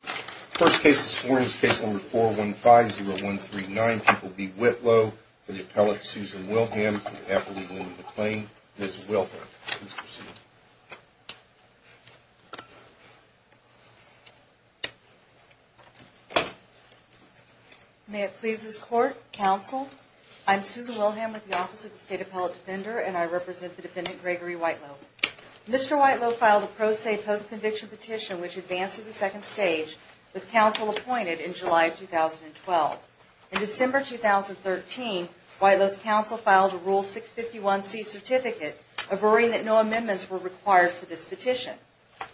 First case this morning is case number 415-0139. People v. Whitlow for the appellate Susan Wilhelm and the appellate Linda McClain. Ms. Wilhelm, please proceed. May it please this Court, Counsel, I'm Susan Wilhelm with the Office of the State Appellate Defender and I represent the defendant Gregory Whitelow. Mr. Whitelow filed a pro se post conviction petition which advanced to the second stage with counsel appointed in July of 2012. In December 2013, Whitelow's counsel filed a Rule 651C certificate averring that no amendments were required for this petition.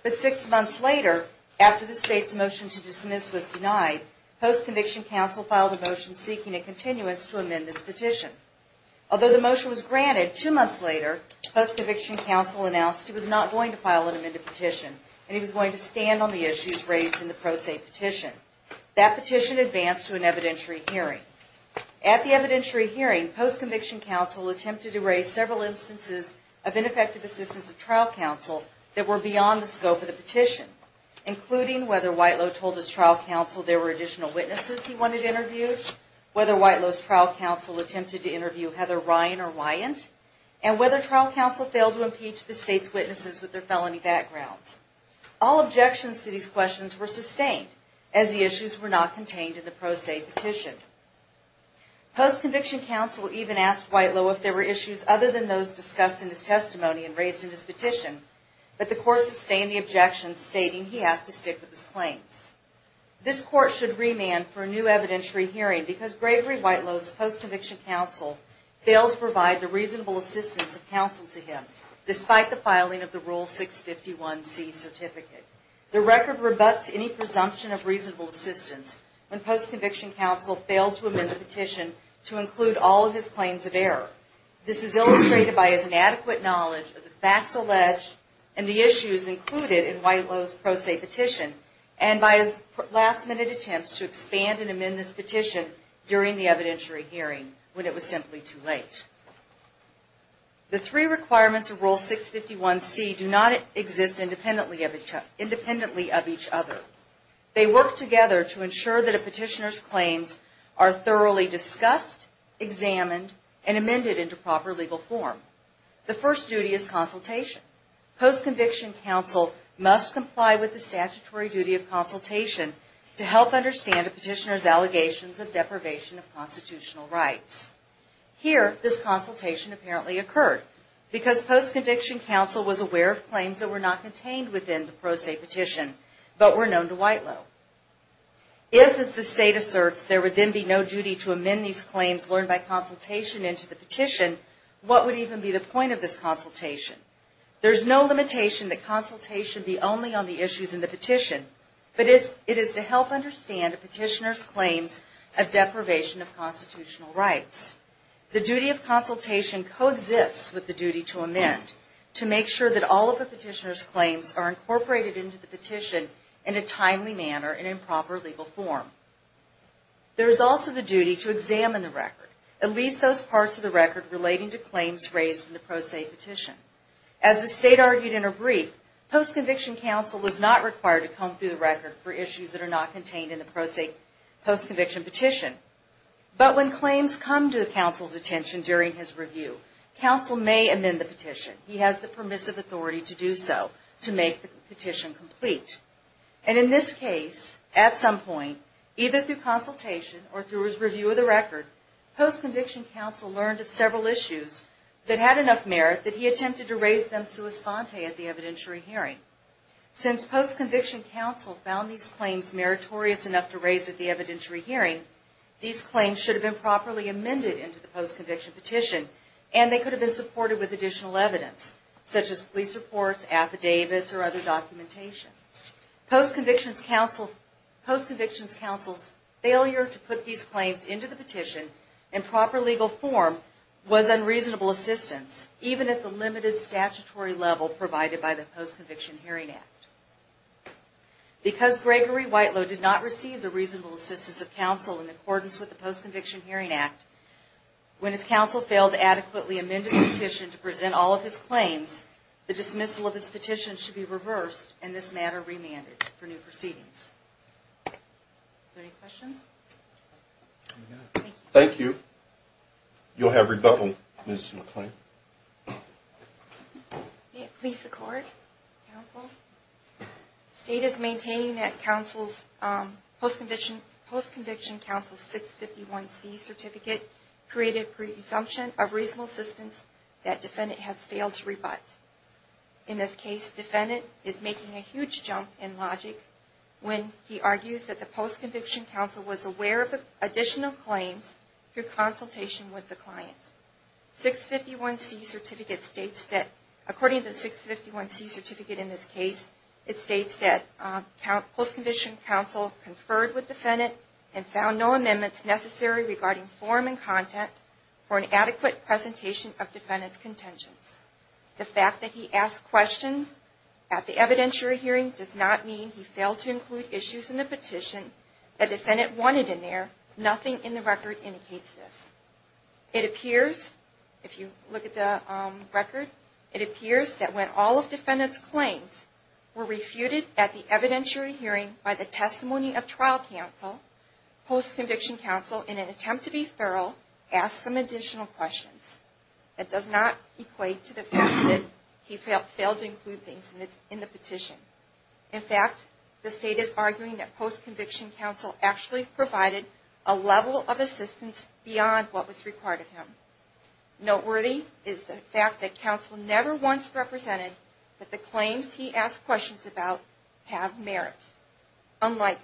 But six months later, after the state's motion to dismiss was denied, post conviction counsel filed a motion seeking a continuance to amend this petition. Although the motion was granted, two months later, post conviction counsel announced he was not going to file an amended petition and he was going to stand on the issues raised in the pro se petition. That petition advanced to an evidentiary hearing. At the evidentiary hearing, post conviction counsel attempted to raise several instances of ineffective assistance of trial counsel that were beyond the scope of the petition, including whether Whitelow told his trial counsel there were additional witnesses he wanted interviewed, whether Whitelow's trial counsel attempted to interview Heather Ryan or Wyant, and whether trial counsel failed to provide the reasonable assistance of counsel to him. Despite the filing of the Rule 651C, of counsel to him, despite the filing of the Rule 651C. Post conviction counsel even asked Whitelow if there were issues other than those discussed in his testimony and raised in his petition, but the court sustained the Rule 651C certificate. The record rebuts any presumption of reasonable assistance when post conviction counsel failed to amend the petition to include all of his claims of error. This is illustrated by his inadequate knowledge of the facts alleged and the issues included in Whitelow's pro se petition and by his last minute attempts to expand and amend this petition during the evidentiary hearing when it was simply too late. The three requirements of Rule 651C do not exist independently of each other. They work together to ensure that a petitioner's claims are thoroughly discussed, examined, and amended into proper legal form. The first duty is consultation. Post conviction counsel must comply with the statutory duty of consultation to help understand a petitioner's allegations of deprivation of constitutional rights. Here, this consultation apparently occurred because post conviction counsel was aware of claims that were not contained within the pro se petition, but were known to Whitelow. If, as the state asserts, there would then be no duty to amend these claims learned by consultation into the petition, what would even be the point of this consultation? There is no limitation that consultation be only on the issues in the petition, but it is to help understand a petitioner's claims of deprivation of constitutional rights. The duty of consultation coexists with the duty to amend to make sure that all of a petitioner's claims are incorporated into the petition in a timely manner and in proper legal form. There is also the duty to examine the record, at least those parts of the record relating to claims raised in the pro se petition. As the state argued in her brief, post conviction counsel was not required to comb through the record for issues that are not contained in the pro se post conviction petition. But when claims come to counsel's attention during his review, counsel may amend the petition. He has the permissive authority to do so to make the petition complete. And in this case, at some point, either through consultation or through his review of the record, post conviction counsel learned of several issues that had enough merit that he attempted to raise them sua sponte at the evidentiary hearing. Since post conviction counsel found these claims meritorious enough to these claims should have been properly amended into the post conviction petition and they could have been supported with additional evidence, such as police reports, affidavits, or other documentation. Post conviction counsel's failure to put these claims into the petition in proper legal form was unreasonable assistance even at the limited statutory level provided by the Post Conviction Hearing Act. Because Gregory Whitelow did not receive the reasonable assistance of counsel in accordance with the Post Conviction Hearing Act, when his counsel failed to adequately amend his petition to present all of his claims, the dismissal of his petition should be reversed and this matter remanded for new proceedings. Any questions? Thank you. You'll have rebuttal Ms. McClain. May it please the court, counsel. State is maintaining that post conviction counsel's 651C certificate created presumption of reasonable assistance that defendant has failed to rebut. In this case, defendant is making a huge jump in logic when he argues that the post conviction counsel was aware of the additional claims through consultation with the client. 651C certificate states that, according to the 651C certificate in this case, it states that post conviction counsel conferred with defendant and found no amendments necessary regarding form and content for an adequate presentation of defendant's contentions. The fact that he asked questions at the evidentiary hearing does not mean he failed to include issues in the petition that defendant wanted in there. Nothing in the record indicates this. It appears, if you look at the record, it appears that when all of defendant's claims were refuted at the evidentiary hearing by the testimony of trial counsel, post conviction counsel, in an attempt to be thorough, asked some additional questions. That does not equate to the fact that he failed to include things in the petition. In fact, the state is arguing that post conviction counsel actually provided a level of assistance beyond what was required of him. Noteworthy is the fact that counsel never once represented that the claims he asked questions about have merit. Unlike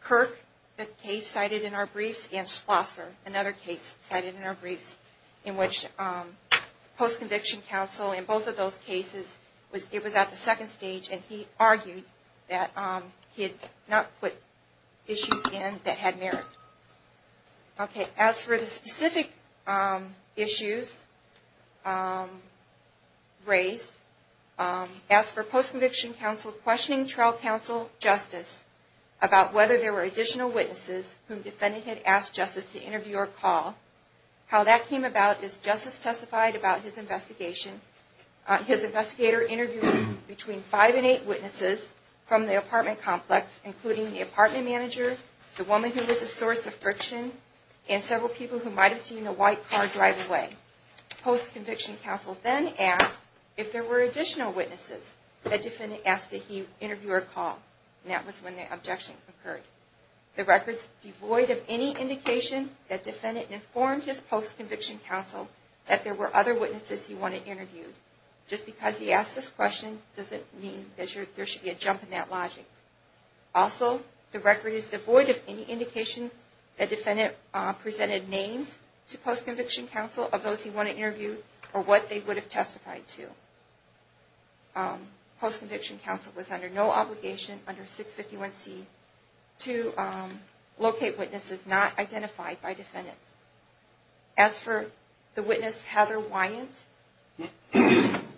Kirk, the case cited in our briefs, and Schlosser, another case cited in our briefs, in which post conviction counsel, in both of those cases, it was at the second stage and he argued that he had not put issues in that had merit. Okay, as for the specific issues raised, as for post conviction counsel questioning trial counsel justice about whether there were additional witnesses whom defendant had asked justice to interview or call, how that came about is justice testified about his investigation. His investigator interviewed between five and eight witnesses from the apartment complex, including the apartment manager, the woman who was a source of friction, and several people who might have seen the white car drive away. Post conviction counsel then asked if there were additional witnesses that defendant asked that he interview or call, and that was when the objection occurred. The record is devoid of any indication that defendant informed his post conviction counsel that there were other witnesses he wanted interviewed. Just because he asked this question doesn't mean that there should be a jump in that logic. Also, the record is devoid of any indication that defendant presented names to post conviction counsel of those he wanted interviewed or what they would have testified to. Post conviction counsel was under no obligation under 651C to locate witnesses not identified by defendant. As for the witness Heather Wyant,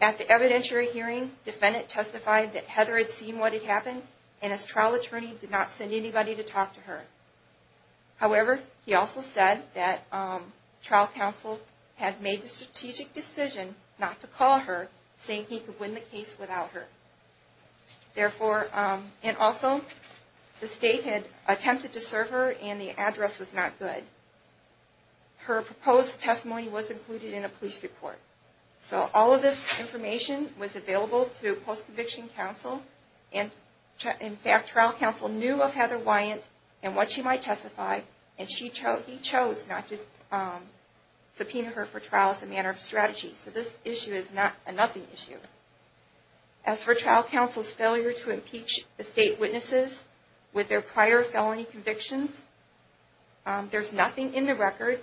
at the evidentiary hearing, defendant testified that Heather had seen what had happened, and his trial attorney did not send anybody to talk to her. However, he also said that trial counsel had made the strategic decision not to call her, saying he could win the case without her. And also, the state had attempted to serve her and the address was not good. Her proposed testimony was included in a police report. So all of this information was available to post conviction counsel. In fact, trial counsel knew of Heather Wyant and what she might testify and he chose not to subpoena her for trial as a matter of strategy. So this issue is not a nothing issue. As for trial counsel's failure to impeach the state witnesses with their prior felony convictions, there's nothing in the record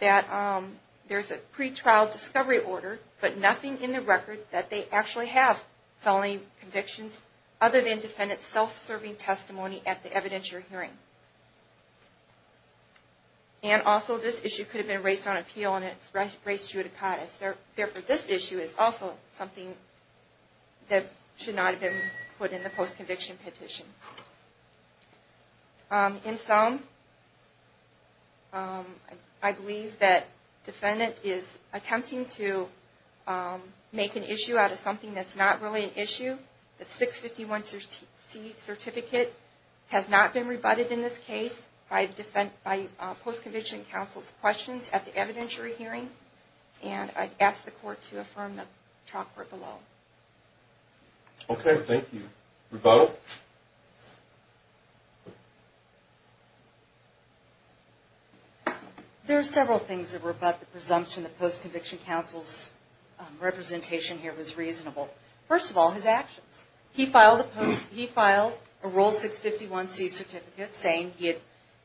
that there's a pretrial discovery order, but nothing in the record that they actually have felony convictions, other than defendant's self-serving testimony at the evidentiary hearing. And also, this issue could have been raised on appeal and it's raised judicatis. Therefore, this issue is also something that should not have been put in the post conviction petition. In sum, I believe that the state is attempting to make an issue out of something that's not really an issue. The 651C certificate has not been rebutted in this case by post conviction counsel's questions at the evidentiary hearing. And I'd ask the court to affirm the chalkboard below. Okay, thank you. Rebuttal? There are several things that rebut the presumption that post conviction counsel's representation here was reasonable. First of all, his actions. He filed a roll 651C certificate saying he had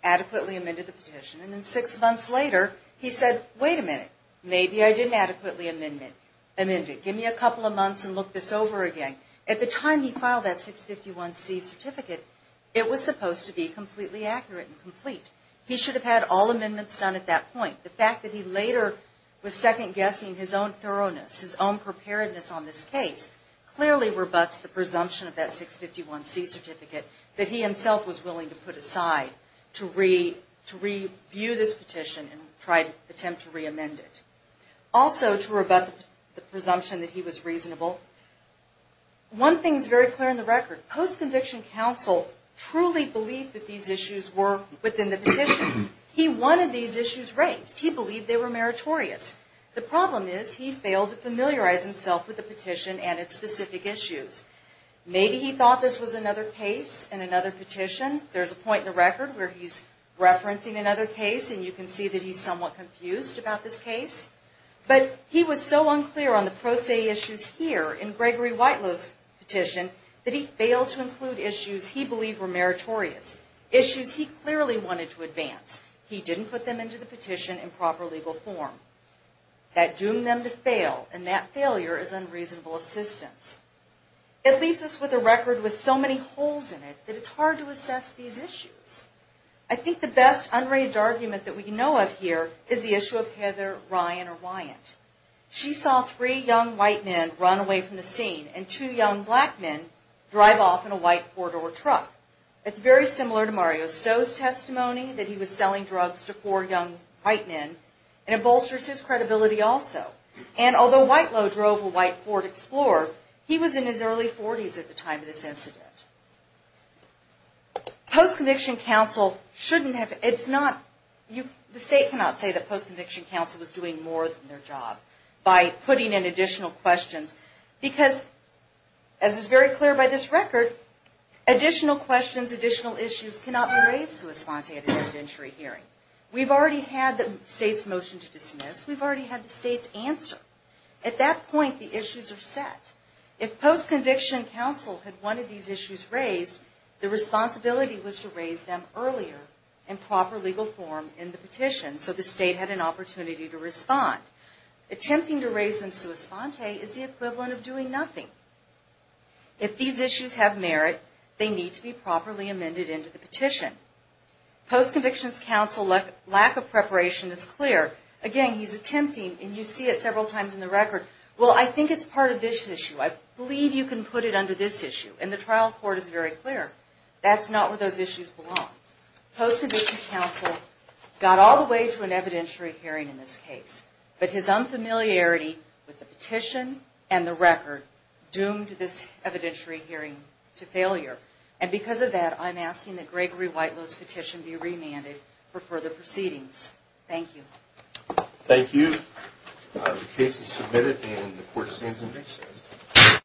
adequately amended the petition and then six months later he said, wait a minute, maybe I didn't adequately amend it. Give me a couple of months and look this over again. At the time he filed that 651C certificate, it was supposed to be completely accurate and complete. He should have had all amendments done at that point. The fact that he later was second guessing his own thoroughness, his own preparedness on this case, clearly rebuts the presumption of that 651C certificate that he himself was willing to put aside to review this petition and try to attempt to reamend it. Also, to rebut the presumption that he was reasonable. One thing is very clear in the record. Post conviction counsel truly believed that these issues were within the petition. He wanted these issues raised. He believed they were meritorious. The problem is he failed to familiarize himself with the petition and its specific issues. Maybe he thought this was another case and another petition. There's a point in the record where he's referencing another case and you can see that he's somewhat confused about this case. But he was so unclear on the pro se issues here in Gregory Whitelow's petition that he failed to include issues he believed were meritorious. Issues he clearly wanted to advance. He didn't put them into the petition in proper legal form. That doomed them to fail and that failure is unreasonable assistance. It leaves us with a record with so many holes in it that it's hard to assess these issues. I think the best unraised argument that we know of here is the issue of Heather Ryan or Wyant. She saw three young white men run away from the scene and two young black men drive off in a white four door truck. It's very similar to Mario Stowe's testimony that he was selling drugs to four young white men and it bolsters his credibility also. And although Whitelow drove a white Ford Explorer he was in his early 40's at the time of this incident. Post conviction counsel shouldn't have, it's not the state cannot say that post conviction counsel was doing more than their job by putting in additional questions because as is very clear by this record, additional questions, additional issues cannot be raised to a sponte at an interventory hearing. We've already had the state's motion to dismiss. We've already had the state's answer. At that point the issues are set. If post conviction counsel had one of these issues raised, the responsibility was to raise them earlier in proper legal form in the petition so the state had an opportunity to respond. Attempting to raise them to a sponte is the equivalent of doing nothing. If these issues have merit they need to be properly amended into the petition. Post conviction counsel lack of preparation is clear. Again he's attempting and you see it several times in the record, well I think it's part of this issue. I believe you can put it under this issue. And the trial court is very clear that's not where those issues belong. Post conviction counsel got all the way to an evidentiary hearing in this case, but his unfamiliarity with the petition and the record doomed this evidentiary hearing to failure. And because of that I'm asking that Gregory Whitelow's petition be remanded for further proceedings. Thank you. Thank you. The case is submitted and the court stands adjourned.